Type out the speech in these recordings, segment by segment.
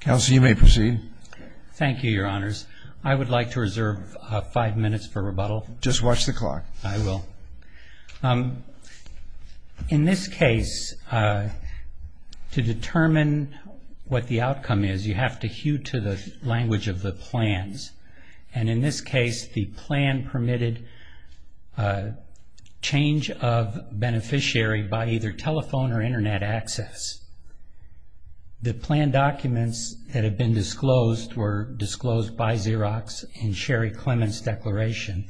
Kelsey, you may proceed. Thank you, Your Honors. I would like to reserve five minutes for rebuttal. Just watch the clock. I will. In this case, to determine what the outcome is, you have to hew to the language of the plans. And in this case, the plan permitted change of beneficiary by either telephone or Internet access. The plan documents that have been disclosed were disclosed by Xerox in Sherry Clement's declaration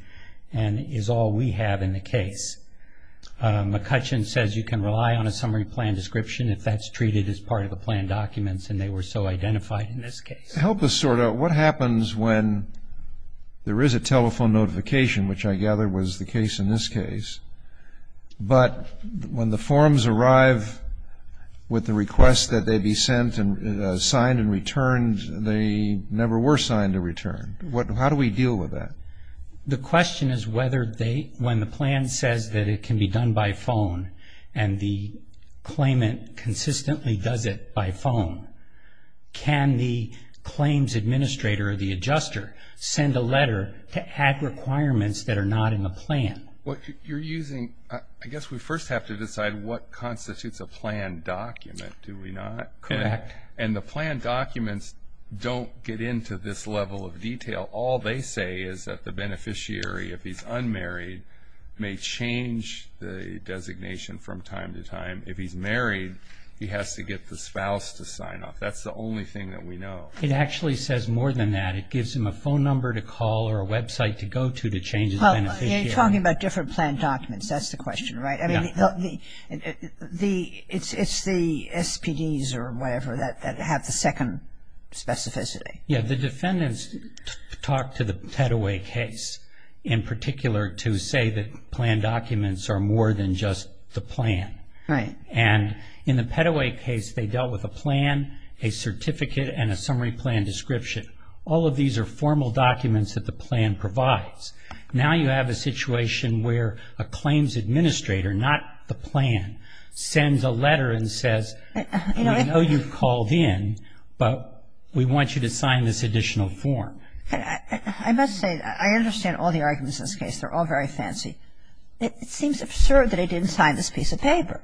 and is all we have in the case. McCutcheon says you can rely on a summary plan description if that's treated as part of the plan documents, and they were so identified in this case. Help us sort out what happens when there is a telephone notification, which I gather was the case in this case, but when the forms arrive with the request that they be sent and signed and returned, they never were signed and returned. How do we deal with that? The question is whether when the plan says that it can be done by phone and the claimant consistently does it by phone, can the claims administrator or the adjuster send a letter to add requirements that are not in the plan? What you're using, I guess we first have to decide what constitutes a plan document, do we not? Correct. And the plan documents don't get into this level of detail. All they say is that the beneficiary, if he's unmarried, may change the designation from time to time. If he's married, he has to get the spouse to sign off. That's the only thing that we know. It actually says more than that. It gives him a phone number to call or a website to go to to change his beneficiary. Well, you're talking about different plan documents. That's the question, right? Yeah. I mean, it's the SPDs or whatever that have the second specificity. Yeah. The defendants talked to the Peddoway case in particular to say that plan documents are more than just the plan. Right. And in the Peddoway case, they dealt with a plan, a certificate, and a summary plan description. All of these are formal documents that the plan provides. Now you have a situation where a claims administrator, not the plan, sends a letter and says, we know you've called in, but we want you to sign this additional form. I must say, I understand all the arguments in this case. They're all very fancy. It seems absurd that he didn't sign this piece of paper.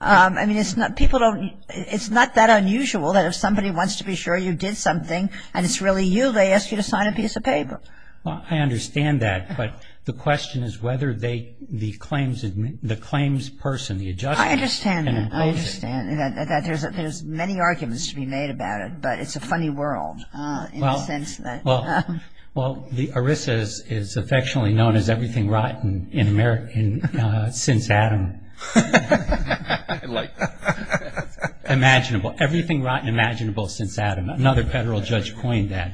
I mean, it's not that unusual that if somebody wants to be sure you did something and it's really you, they ask you to sign a piece of paper. Well, I understand that. But the question is whether the claims person, the adjuster, can impose it. I understand that. I understand that. There's many arguments to be made about it, but it's a funny world in a sense. Well, the ERISA is affectionately known as everything rotten since Adam. I like that. Imaginable. Everything rotten imaginable since Adam. Another federal judge coined that,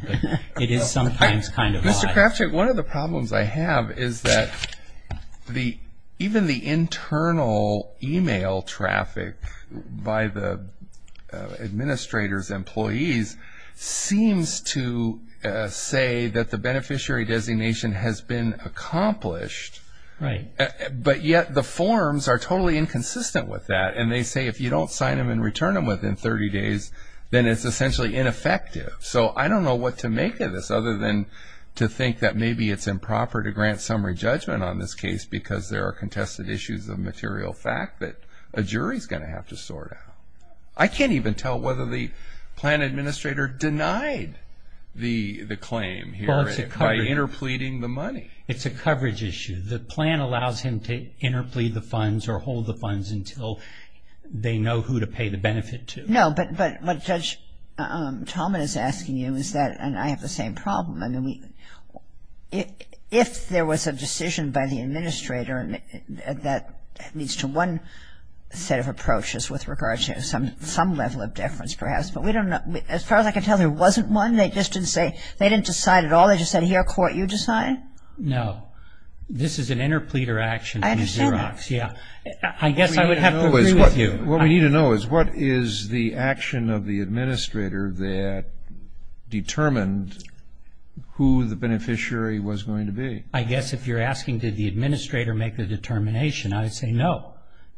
but it is sometimes kind of odd. Mr. Krafchick, one of the problems I have is that even the internal e-mail traffic by the administrator's employees seems to say that the beneficiary designation has been accomplished, but yet the forms are totally inconsistent with that. And they say if you don't sign them and return them within 30 days, then it's essentially ineffective. So I don't know what to make of this other than to think that maybe it's improper to grant summary judgment on this case because there are contested issues of material fact that a jury is going to have to sort out. I can't even tell whether the plan administrator denied the claim here by interpleading the money. It's a coverage issue. The plan allows him to interplead the funds or hold the funds until they know who to pay the benefit to. No, but what Judge Talman is asking you is that, and I have the same problem, I mean, if there was a decision by the administrator that leads to one set of approaches with regard to some level of deference perhaps, but we don't know. As far as I can tell, there wasn't one. They just didn't say, they didn't decide at all. They just said, here, court, you decide. No. This is an interpleader action in Xerox. I understand that. Yeah. I guess I would have to agree with you. What we need to know is what is the action of the administrator that determined who the beneficiary was going to be. I guess if you're asking did the administrator make the determination, I would say no.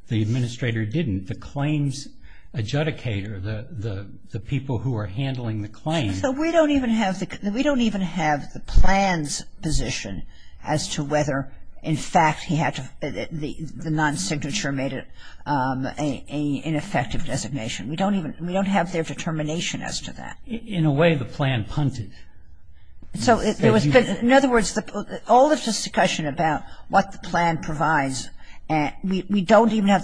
The administrator didn't. The claims adjudicator, the people who are handling the claims. So we don't even have the plan's position as to whether, in fact, the non-signature made an ineffective designation. We don't have their determination as to that. In a way, the plan punted. So in other words, all of the discussion about what the plan provides, we do not have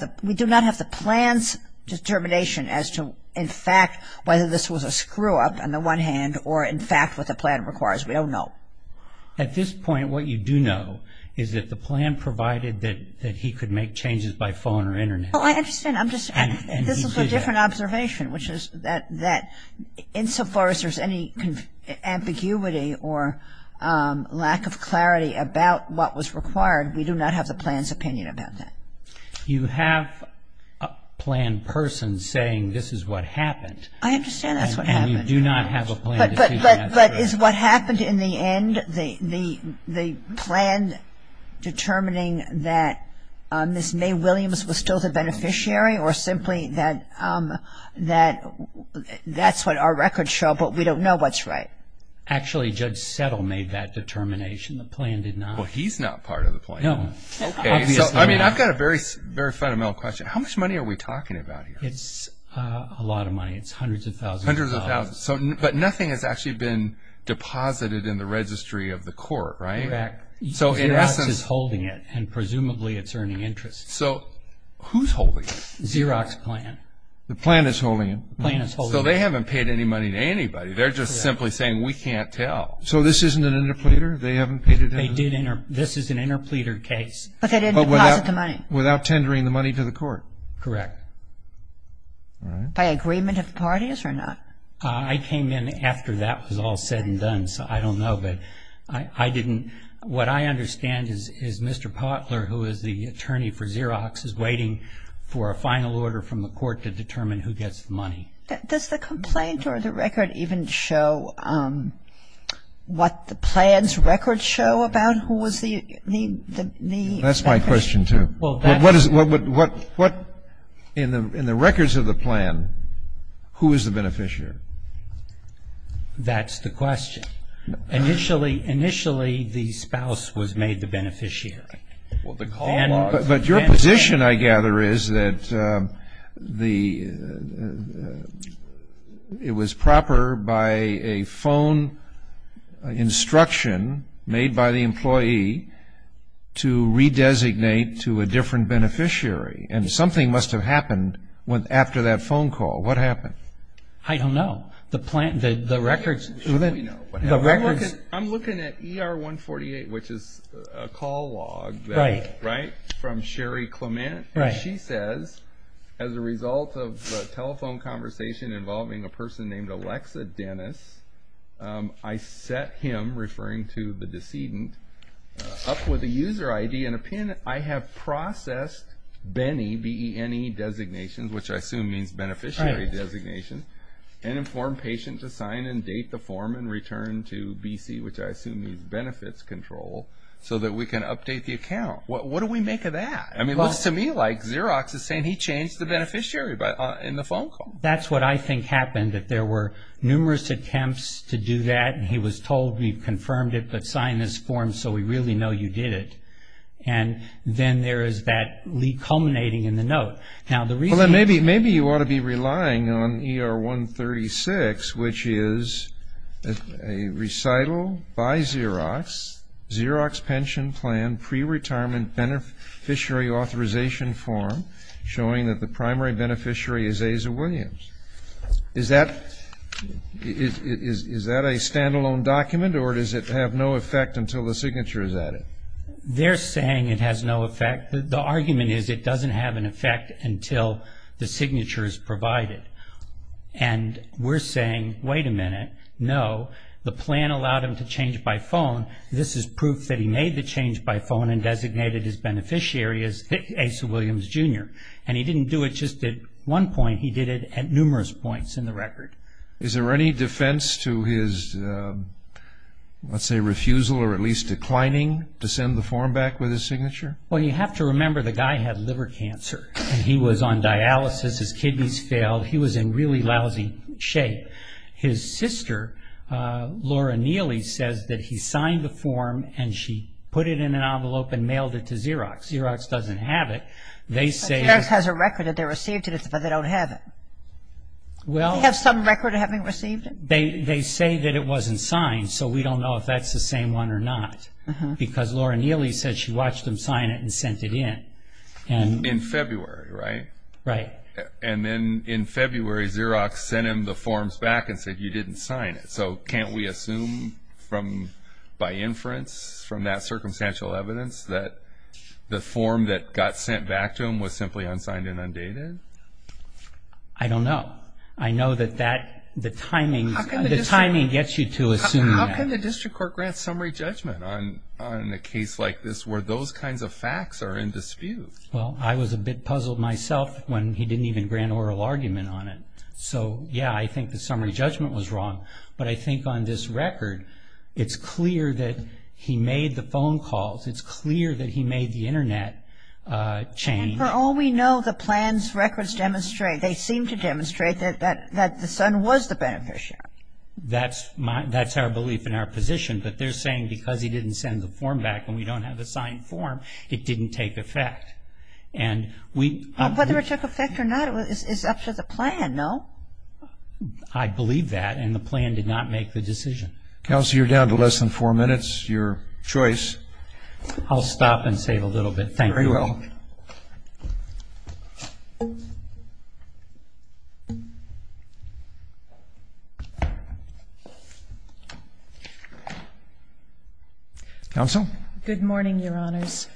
the plan's determination as to, in fact, whether this was a screw-up on the one hand or, in fact, what the plan requires. We don't know. At this point, what you do know is that the plan provided that he could make changes by phone or Internet. Well, I understand. I'm just saying this is a different observation, which is that insofar as there's any ambiguity or lack of clarity about what was required, we do not have the plan's opinion about that. You have a planned person saying this is what happened. I understand that's what happened. We do not have a plan's decision as to that. But is what happened in the end the plan determining that Ms. May Williams was still the beneficiary or simply that that's what our records show but we don't know what's right? Actually, Judge Settle made that determination. The plan did not. Well, he's not part of the plan. No. I've got a very fundamental question. How much money are we talking about here? It's a lot of money. It's hundreds of thousands of dollars. Hundreds of thousands. But nothing has actually been deposited in the registry of the court, right? Correct. Xerox is holding it, and presumably it's earning interest. So who's holding it? Xerox plan. The plan is holding it. The plan is holding it. So they haven't paid any money to anybody. They're just simply saying we can't tell. So this isn't an interpleader? They haven't paid it? This is an interpleader case. But they didn't deposit the money. Without tendering the money to the court. Correct. All right. By agreement of parties or not? I came in after that was all said and done, so I don't know. But I didn't – what I understand is Mr. Potler, who is the attorney for Xerox, is waiting for a final order from the court to determine who gets the money. Does the complaint or the record even show what the plan's records show about who was the – That's my question, too. In the records of the plan, who is the beneficiary? That's the question. Initially, the spouse was made the beneficiary. But your position, I gather, is that it was proper by a phone instruction made by the employee to redesignate to a different beneficiary. And something must have happened after that phone call. What happened? I don't know. The records – I'm looking at ER-148, which is a call log from Sherry Clement. And she says, as a result of the telephone conversation involving a person named Alexa Dennis, I set him, referring to the decedent, up with a user ID and a PIN. I have processed Benny, B-E-N-E, designation, which I assume means beneficiary designation, and informed patient to sign and date the form and return to BC, which I assume means benefits control, so that we can update the account. What do we make of that? I mean, it looks to me like Xerox is saying he changed the beneficiary in the phone call. That's what I think happened, that there were numerous attempts to do that, and he was told, we've confirmed it, but sign this form so we really know you did it. And then there is that lead culminating in the note. Maybe you ought to be relying on ER-136, which is a recital by Xerox, Xerox pension plan pre-retirement beneficiary authorization form, showing that the primary beneficiary is Asa Williams. Is that a stand-alone document, or does it have no effect until the signature is added? They're saying it has no effect. The argument is it doesn't have an effect until the signature is provided. And we're saying, wait a minute, no, the plan allowed him to change by phone. This is proof that he made the change by phone and designated his beneficiary as Asa Williams, Jr. And he didn't do it just at one point. He did it at numerous points in the record. Is there any defense to his, let's say, refusal or at least declining to send the form back with his signature? Well, you have to remember the guy had liver cancer. He was on dialysis. His kidneys failed. He was in really lousy shape. But his sister, Laura Neely, says that he signed the form and she put it in an envelope and mailed it to Xerox. Xerox doesn't have it. Xerox has a record that they received it, but they don't have it. They have some record of having received it? They say that it wasn't signed, so we don't know if that's the same one or not. Because Laura Neely said she watched him sign it and sent it in. In February, right? Right. And then in February, Xerox sent him the forms back and said you didn't sign it. So can't we assume by inference from that circumstantial evidence that the form that got sent back to him was simply unsigned and undated? I don't know. I know that the timing gets you to assume that. How can the district court grant summary judgment on a case like this where those kinds of facts are in dispute? Well, I was a bit puzzled myself when he didn't even grant oral argument on it. So, yeah, I think the summary judgment was wrong, but I think on this record it's clear that he made the phone calls. It's clear that he made the Internet chain. And for all we know, the plans records demonstrate, they seem to demonstrate that the son was the beneficiary. That's our belief in our position, but they're saying because he didn't send the form back and we don't have the signed form, it didn't take effect. Whether it took effect or not is up to the plan, no? I believe that, and the plan did not make the decision. Counsel, you're down to less than four minutes. Your choice. I'll stop and save a little bit. Thank you. Very well. Counsel? Good morning, Your Honors.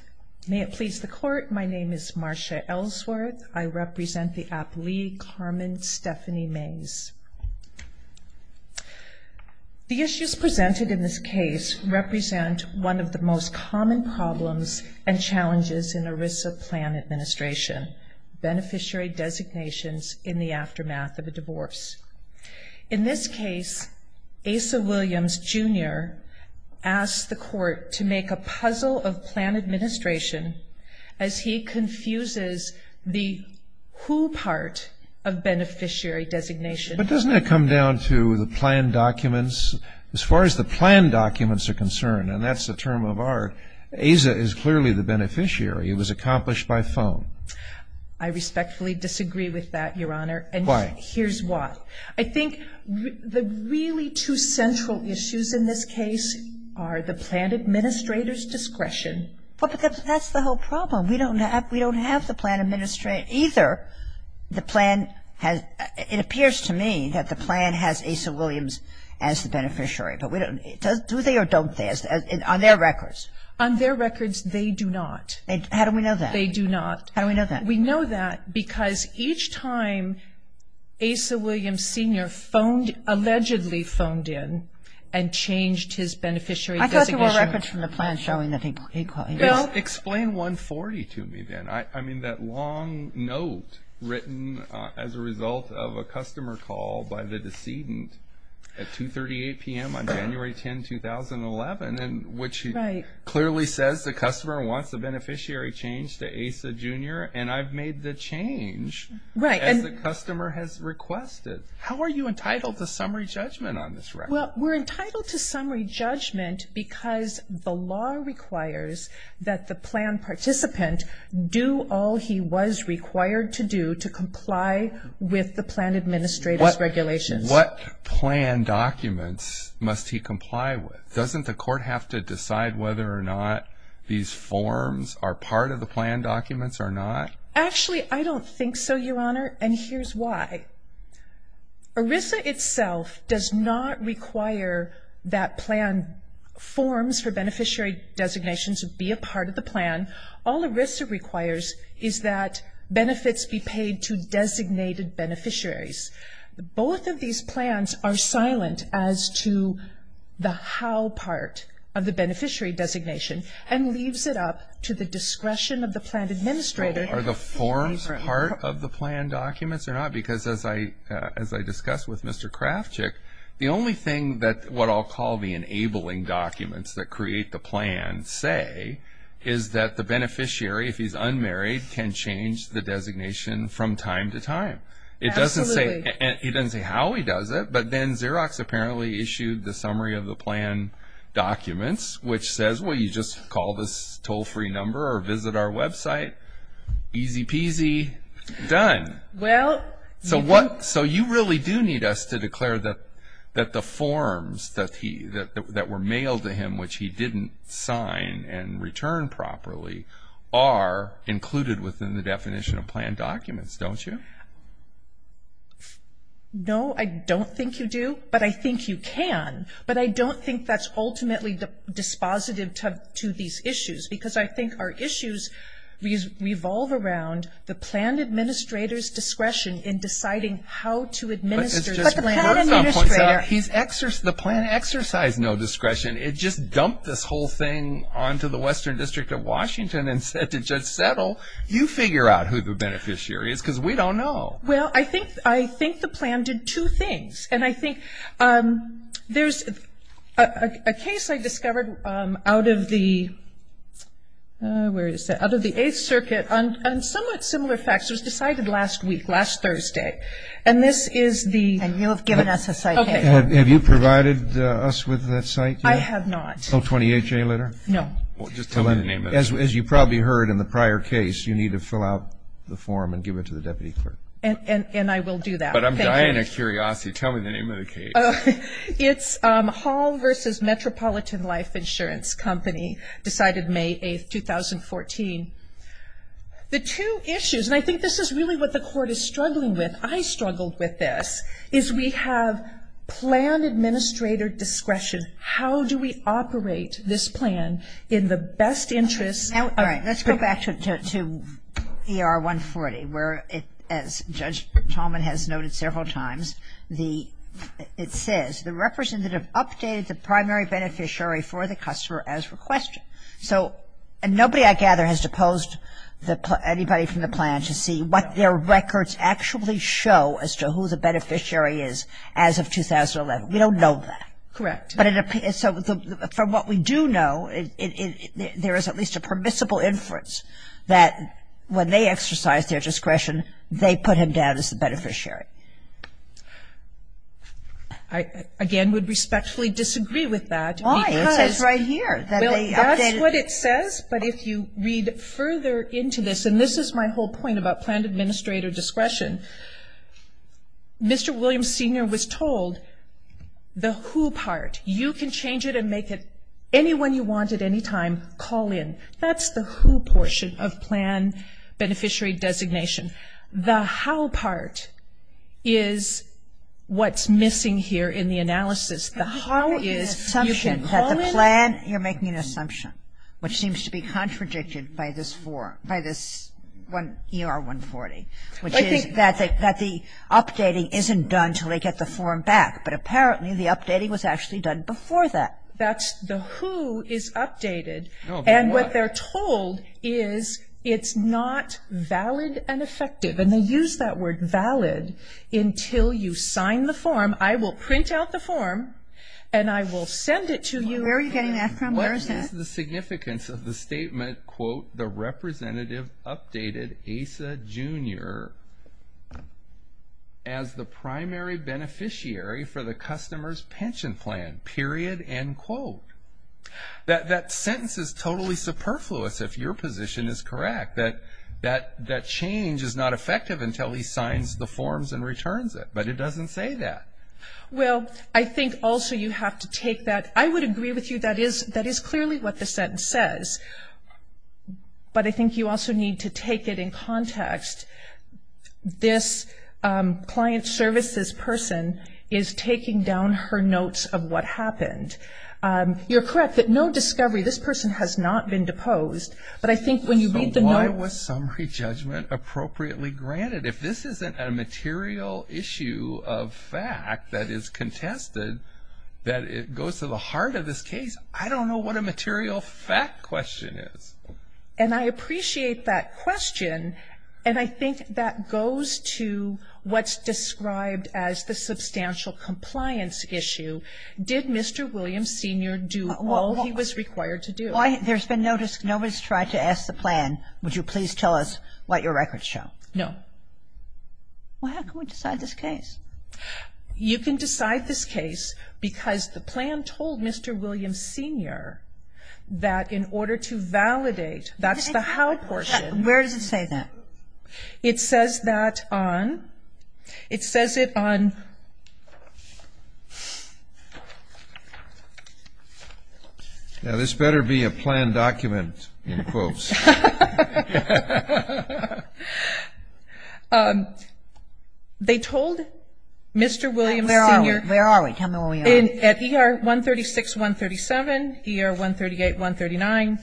May it please the Court, my name is Marsha Ellsworth. I represent the athlete Carmen Stephanie Mays. The issues presented in this case represent one of the most common problems and challenges in ERISA plan administration, beneficiary designations in the aftermath of a divorce. In this case, Asa Williams, Jr. asked the Court to make a puzzle of plan administration as he confuses the who part of beneficiary designation. But doesn't that come down to the plan documents? As far as the plan documents are concerned, and that's the term of art, Asa is clearly the beneficiary. It was accomplished by phone. I respectfully disagree with that, Your Honor. Why? Here's why. I think the really two central issues in this case are the plan administrator's discretion. But that's the whole problem. We don't have the plan administrator either. The plan has, it appears to me that the plan has Asa Williams as the beneficiary, but do they or don't they, on their records? On their records, they do not. How do we know that? They do not. How do we know that? We know that because each time Asa Williams, Sr. allegedly phoned in and changed his beneficiary designation. I thought there were records from the plan showing that he called. Explain 140 to me then. I mean that long note written as a result of a customer call by the decedent at 2.38 p.m. on January 10, 2011, which clearly says the customer wants a beneficiary change to Asa, Jr. and I've made the change as the customer has requested. How are you entitled to summary judgment on this record? Well, we're entitled to summary judgment because the law requires that the plan participant do all he was required to do to comply with the plan administrator's regulations. What plan documents must he comply with? Doesn't the court have to decide whether or not these forms are part of the plan documents or not? Actually, I don't think so, Your Honor, and here's why. ERISA itself does not require that plan forms for beneficiary designation to be a part of the plan. All ERISA requires is that benefits be paid to designated beneficiaries. Both of these plans are silent as to the how part of the beneficiary designation and leaves it up to the discretion of the plan administrator. Are the forms part of the plan documents or not? Because as I discussed with Mr. Krafchick, the only thing that what I'll call the enabling documents that create the plan say is that the beneficiary, if he's unmarried, can change the designation from time to time. Absolutely. He doesn't say how he does it, but then Xerox apparently issued the summary of the plan documents, which says, well, you just call this toll-free number or visit our website. Easy peasy, done. So you really do need us to declare that the forms that were mailed to him, which he didn't sign and return properly, are included within the definition of plan documents, don't you? No, I don't think you do, but I think you can. But I don't think that's ultimately dispositive to these issues because I think our issues revolve around the plan administrator's discretion in deciding how to administer the plan. But the plan administrator. The plan exercised no discretion. It just dumped this whole thing onto the Western District of Washington and said to Judge Settle, you figure out who the beneficiary is because we don't know. Well, I think the plan did two things. And I think there's a case I discovered out of the Eighth Circuit on somewhat similar facts. It was decided last week, last Thursday. And this is the... And you have given us a site paper. Have you provided us with that site? I have not. O28J letter? No. Well, just tell me the name of it. As you probably heard in the prior case, you need to fill out the form and give it to the deputy clerk. And I will do that. But I'm dying of curiosity. Tell me the name of the case. It's Hall v. Metropolitan Life Insurance Company, decided May 8, 2014. The two issues, and I think this is really what the court is struggling with, is we have plan administrator discretion. How do we operate this plan in the best interest of... All right. Let's go back to ER 140 where, as Judge Tallman has noted several times, it says the representative updated the primary beneficiary for the customer as requested. And nobody, I gather, has deposed anybody from the plan to see what their records actually show as to who the beneficiary is as of 2011. We don't know that. Correct. But from what we do know, there is at least a permissible inference that when they exercise their discretion, they put him down as the beneficiary. Why? That's what it says. But if you read further into this, and this is my whole point about plan administrator discretion, Mr. Williams, Sr. was told the who part. You can change it and make it anyone you want at any time, call in. That's the who portion of plan beneficiary designation. The how is assumption that the plan, you're making an assumption, which seems to be contradicted by this form, by this ER 140, which is that the updating isn't done until they get the form back. But apparently the updating was actually done before that. That's the who is updated. And what they're told is it's not valid and effective. And they use that word valid until you sign the form. I will print out the form, and I will send it to you. Where are you getting that from? Where is that? What is the significance of the statement, quote, the representative updated Asa, Jr. as the primary beneficiary for the customer's pension plan, period, end quote. That sentence is totally superfluous if your position is correct. That change is not effective until he signs the forms and returns it. But it doesn't say that. Well, I think also you have to take that. I would agree with you that is clearly what the sentence says. But I think you also need to take it in context. This client services person is taking down her notes of what happened. You're correct that no discovery, this person has not been deposed. But I think when you read the notes. So why was summary judgment appropriately granted? If this isn't a material issue of fact that is contested, that it goes to the heart of this case, I don't know what a material fact question is. And I appreciate that question. And I think that goes to what's described as the substantial compliance issue. Did Mr. Williams, Sr. do all he was required to do? There's been no one's tried to ask the plan, would you please tell us what your records show? No. Well, how can we decide this case? You can decide this case because the plan told Mr. Williams, Sr. that in order to validate, that's the how portion. Where does it say that? It says that on, it says it on. Now this better be a planned document in quotes. They told Mr. Williams, Sr. Where are we? Tell me where we are. At ER 136, 137, ER 138, 139,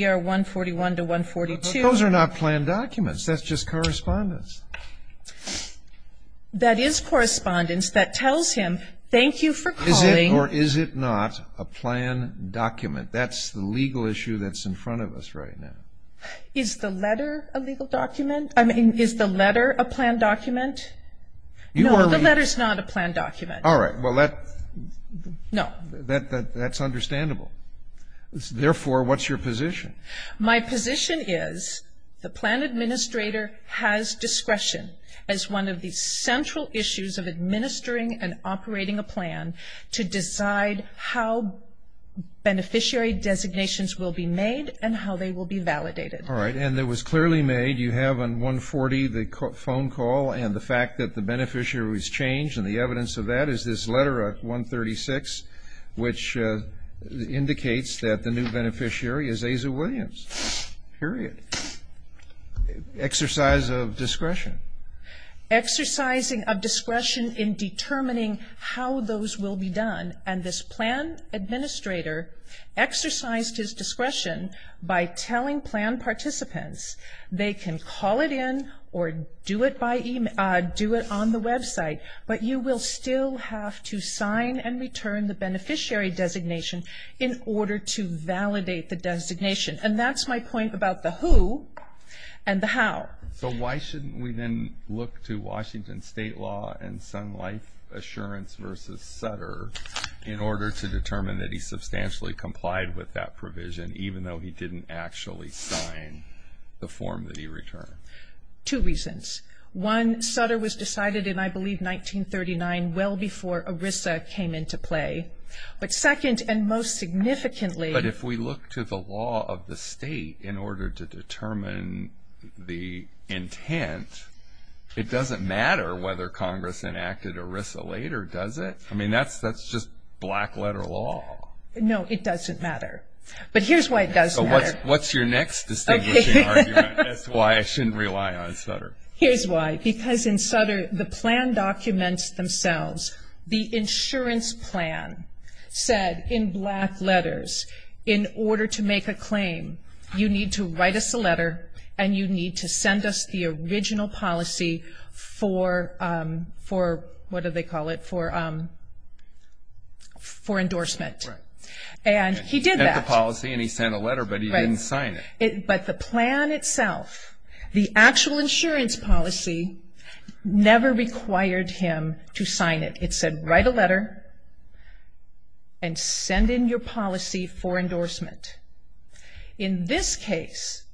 ER 141 to 142. Those are not planned documents, that's just correspondence. That is correspondence that tells him thank you for calling. Or is it not a planned document? That's the legal issue that's in front of us right now. Is the letter a legal document? I mean, is the letter a planned document? No, the letter's not a planned document. All right. Well, that's understandable. Therefore, what's your position? My position is the plan administrator has discretion as one of the central issues of administering and operating a plan to decide how beneficiary designations will be made and how they will be validated. All right. And it was clearly made, you have on 140 the phone call and the fact that the beneficiary was changed and the evidence of that is this letter at 136, which indicates that the new beneficiary is Aza Williams, period. Exercise of discretion. Exercising of discretion in determining how those will be done. And this plan administrator exercised his discretion by telling plan participants they can call it in or do it on the website, but you will still have to sign and return the beneficiary designation in order to validate the designation. And that's my point about the who and the how. So why shouldn't we then look to Washington State law and Sun Life Assurance versus Sutter in order to determine that he substantially complied with that provision, even though he didn't actually sign the form that he returned? Two reasons. One, Sutter was decided in, I believe, 1939, well before ERISA came into play. But second and most significantly — if you look to the law of the state in order to determine the intent, it doesn't matter whether Congress enacted ERISA later, does it? I mean, that's just black-letter law. No, it doesn't matter. But here's why it doesn't matter. So what's your next distinguishing argument as to why I shouldn't rely on Sutter? Here's why. Because in Sutter, the plan documents themselves. The insurance plan said in black letters, in order to make a claim you need to write us a letter and you need to send us the original policy for, what do they call it, for endorsement. And he did that. He sent the policy and he sent a letter, but he didn't sign it. But the plan itself, the actual insurance policy, never required him to sign it. It said write a letter and send in your policy for endorsement. In this case,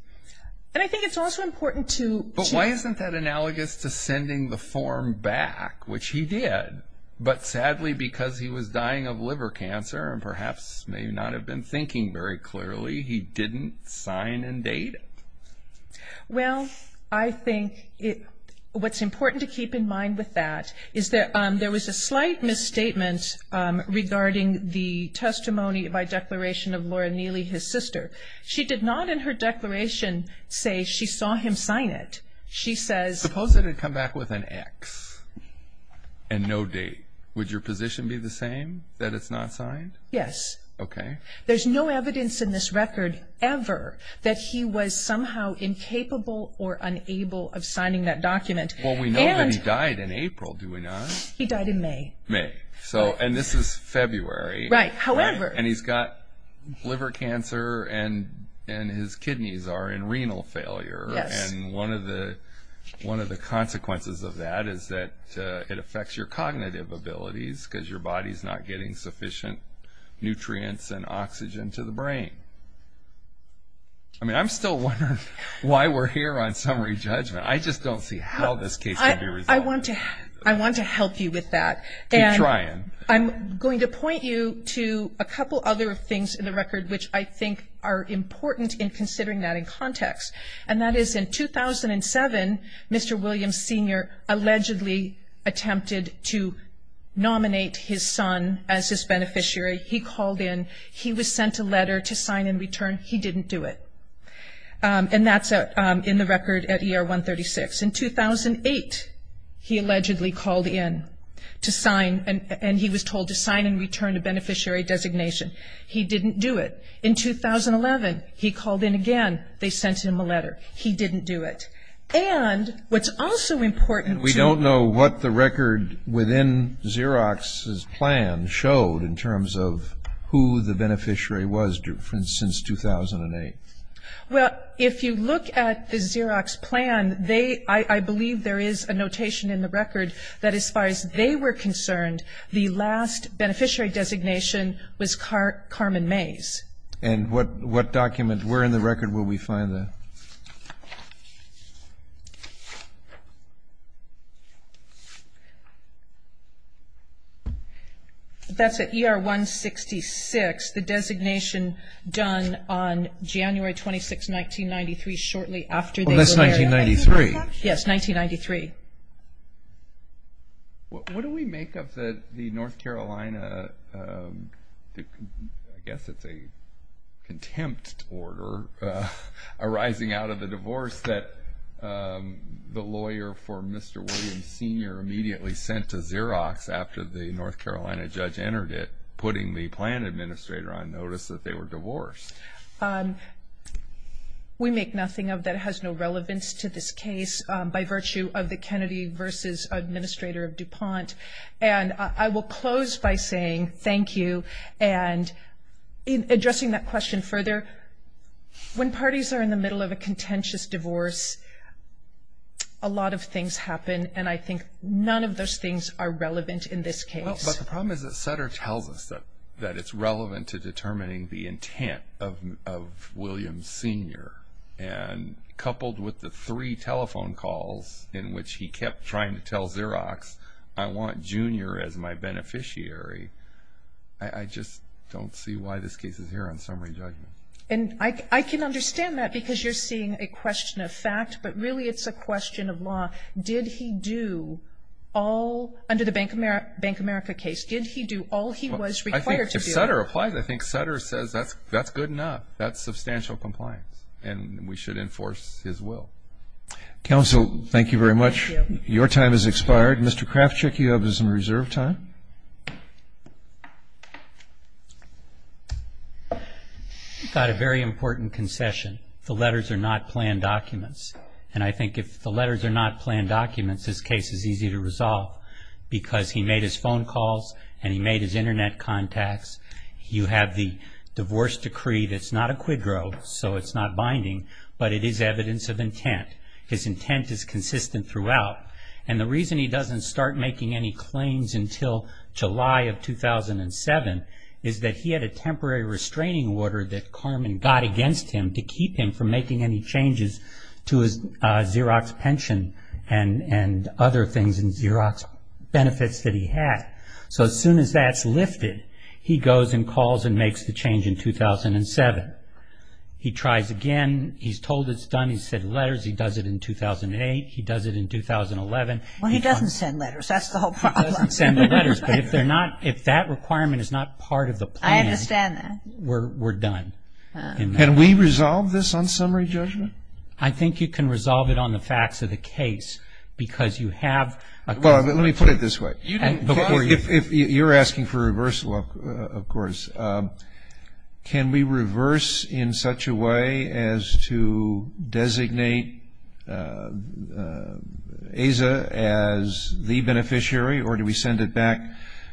and I think it's also important to — But why isn't that analogous to sending the form back, which he did, but sadly because he was dying of liver cancer and perhaps may not have been thinking very clearly, he didn't sign and date it? Well, I think what's important to keep in mind with that is that there was a slight misstatement regarding the testimony by declaration of Laura Neely, his sister. She did not in her declaration say she saw him sign it. She says — Suppose it had come back with an X and no date. Would your position be the same, that it's not signed? Yes. Okay. There's no evidence in this record ever that he was somehow incapable or unable of signing that document. Well, we know that he died in April, do we not? He died in May. May. And this is February. Right. However — And he's got liver cancer and his kidneys are in renal failure. Yes. And one of the consequences of that is that it affects your cognitive abilities because your body is not getting sufficient nutrients and oxygen to the brain. I mean, I'm still wondering why we're here on summary judgment. I just don't see how this case can be resolved. I want to help you with that. Keep trying. I'm going to point you to a couple other things in the record which I think are important in considering that in context, and that is in 2007, Mr. Williams Sr. allegedly attempted to nominate his son as his beneficiary. He called in. He was sent a letter to sign in return. He didn't do it. And that's in the record at ER 136. In 2008, he allegedly called in to sign, and he was told to sign and return a beneficiary designation. He didn't do it. In 2011, he called in again. They sent him a letter. He didn't do it. And what's also important to- We don't know what the record within Xerox's plan showed in terms of who the beneficiary was since 2008. Well, if you look at the Xerox plan, I believe there is a notation in the record that as far as they were concerned, the last beneficiary designation was Carmen Mays. And what document? Where in the record will we find that? That's at ER 166, the designation done on January 26, 1993, shortly after they were there. Well, that's 1993. Yes, 1993. What do we make of the North Carolina, I guess it's a contempt order, arising out of the divorce that the lawyer for Mr. Williams Sr. immediately sent to Xerox after the North Carolina judge entered it, putting the plan administrator on notice that they were divorced? We make nothing of that. It has no relevance to this case by virtue of the Kennedy v. Administrator of DuPont. And I will close by saying thank you. And addressing that question further, when parties are in the middle of a contentious divorce, a lot of things happen, and I think none of those things are relevant in this case. But the problem is that Sutter tells us that it's relevant to determining the intent of Williams Sr., and coupled with the three telephone calls in which he kept trying to tell Xerox, I want Junior as my beneficiary, I just don't see why this case is here on summary judgment. And I can understand that because you're seeing a question of fact, but really it's a question of law. Did he do all, under the Bank of America case, did he do all he was required to do? I think if Sutter applies, I think Sutter says that's good enough. That's substantial compliance, and we should enforce his will. Counsel, thank you very much. Thank you. Your time has expired. Mr. Krafchick, you have some reserve time. I've got a very important concession. The letters are not planned documents. And I think if the letters are not planned documents, this case is easy to resolve because he made his phone calls and he made his Internet contacts. You have the divorce decree that's not a quid pro, so it's not binding, but it is evidence of intent. His intent is consistent throughout. And the reason he doesn't start making any claims until July of 2007 is that he had a temporary restraining order that Carmen got against him to keep him from making any changes to his Xerox pension and other things in Xerox benefits that he had. So as soon as that's lifted, he goes and calls and makes the change in 2007. He tries again. He's told it's done. He's sent letters. He does it in 2008. He does it in 2011. Well, he doesn't send letters. That's the whole problem. He doesn't send the letters. But if that requirement is not part of the plan, we're done. Can we resolve this on summary judgment? I think you can resolve it on the facts of the case because you have a good Well, let me put it this way. If you're asking for reversal, of course, can we reverse in such a way as to designate AZA as the beneficiary or do we send it back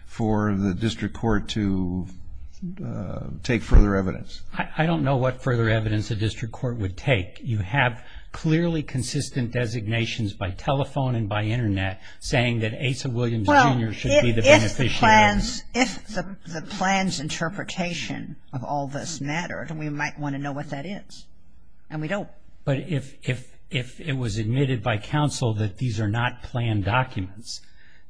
for the district court to take further evidence? I don't know what further evidence the district court would take. You have clearly consistent designations by telephone and by Internet saying that AZA Williams, Jr. should be the beneficiary. If the plan's interpretation of all this mattered, we might want to know what that is, and we don't. But if it was admitted by counsel that these are not planned documents,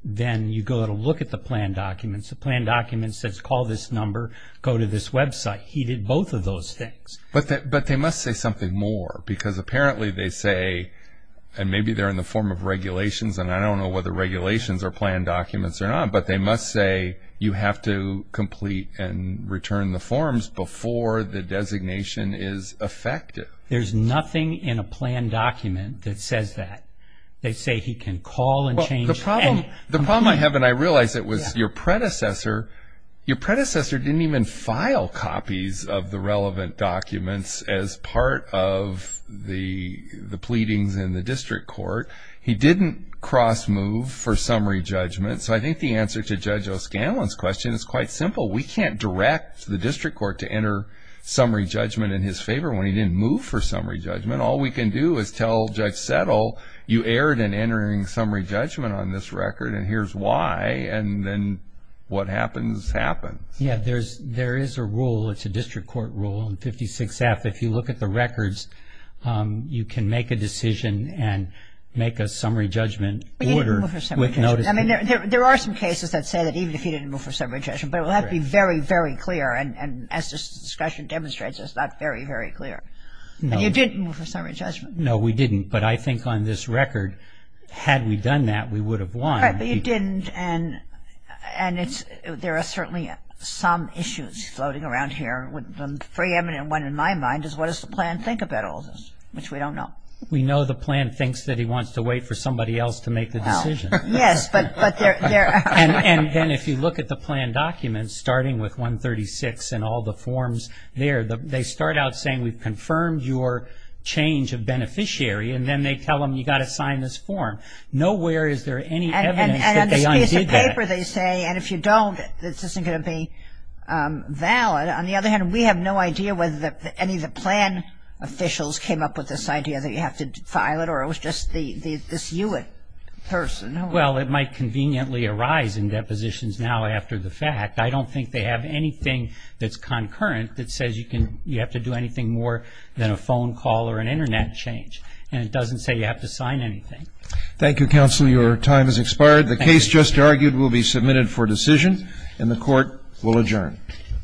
then you go to look at the planned documents. The planned document says call this number, go to this website. He did both of those things. But they must say something more because apparently they say, and maybe they're in the form of regulations, and I don't know whether regulations are planned documents or not, but they must say you have to complete and return the forms before the designation is effective. There's nothing in a planned document that says that. They say he can call and change. The problem I have, and I realize it, was your predecessor didn't even file copies of the relevant documents as part of the pleadings in the district court. He didn't cross-move for summary judgment. So I think the answer to Judge O'Scanlan's question is quite simple. We can't direct the district court to enter summary judgment in his favor when he didn't move for summary judgment. All we can do is tell Judge Settle, you erred in entering summary judgment on this record, and here's why, and then what happens happens. Yeah, there is a rule, it's a district court rule in 56F, if you look at the records, you can make a decision and make a summary judgment order. But he didn't move for summary judgment. I mean, there are some cases that say that even if he didn't move for summary judgment, but it will have to be very, very clear, and as this discussion demonstrates, it's not very, very clear. No. And you didn't move for summary judgment. No, we didn't. But I think on this record, had we done that, we would have won. Right, but you didn't, and there are certainly some issues floating around here. One very eminent one in my mind is what does the plan think about all this, which we don't know. We know the plan thinks that he wants to wait for somebody else to make the decision. Yes, but there are. And then if you look at the plan documents, starting with 136 and all the forms there, they start out saying we've confirmed your change of beneficiary, and then they tell them you've got to sign this form. Nowhere is there any evidence that they undid that. And on this piece of paper they say, and if you don't, this isn't going to be valid. On the other hand, we have no idea whether any of the plan officials came up with this idea that you have to file it, or it was just this Hewitt person. Well, it might conveniently arise in depositions now after the fact. I don't think they have anything that's concurrent that says you have to do anything more than a phone call or an Internet change, and it doesn't say you have to sign anything. Thank you, Counsel. Your time has expired. The case just argued will be submitted for decision, and the Court will adjourn.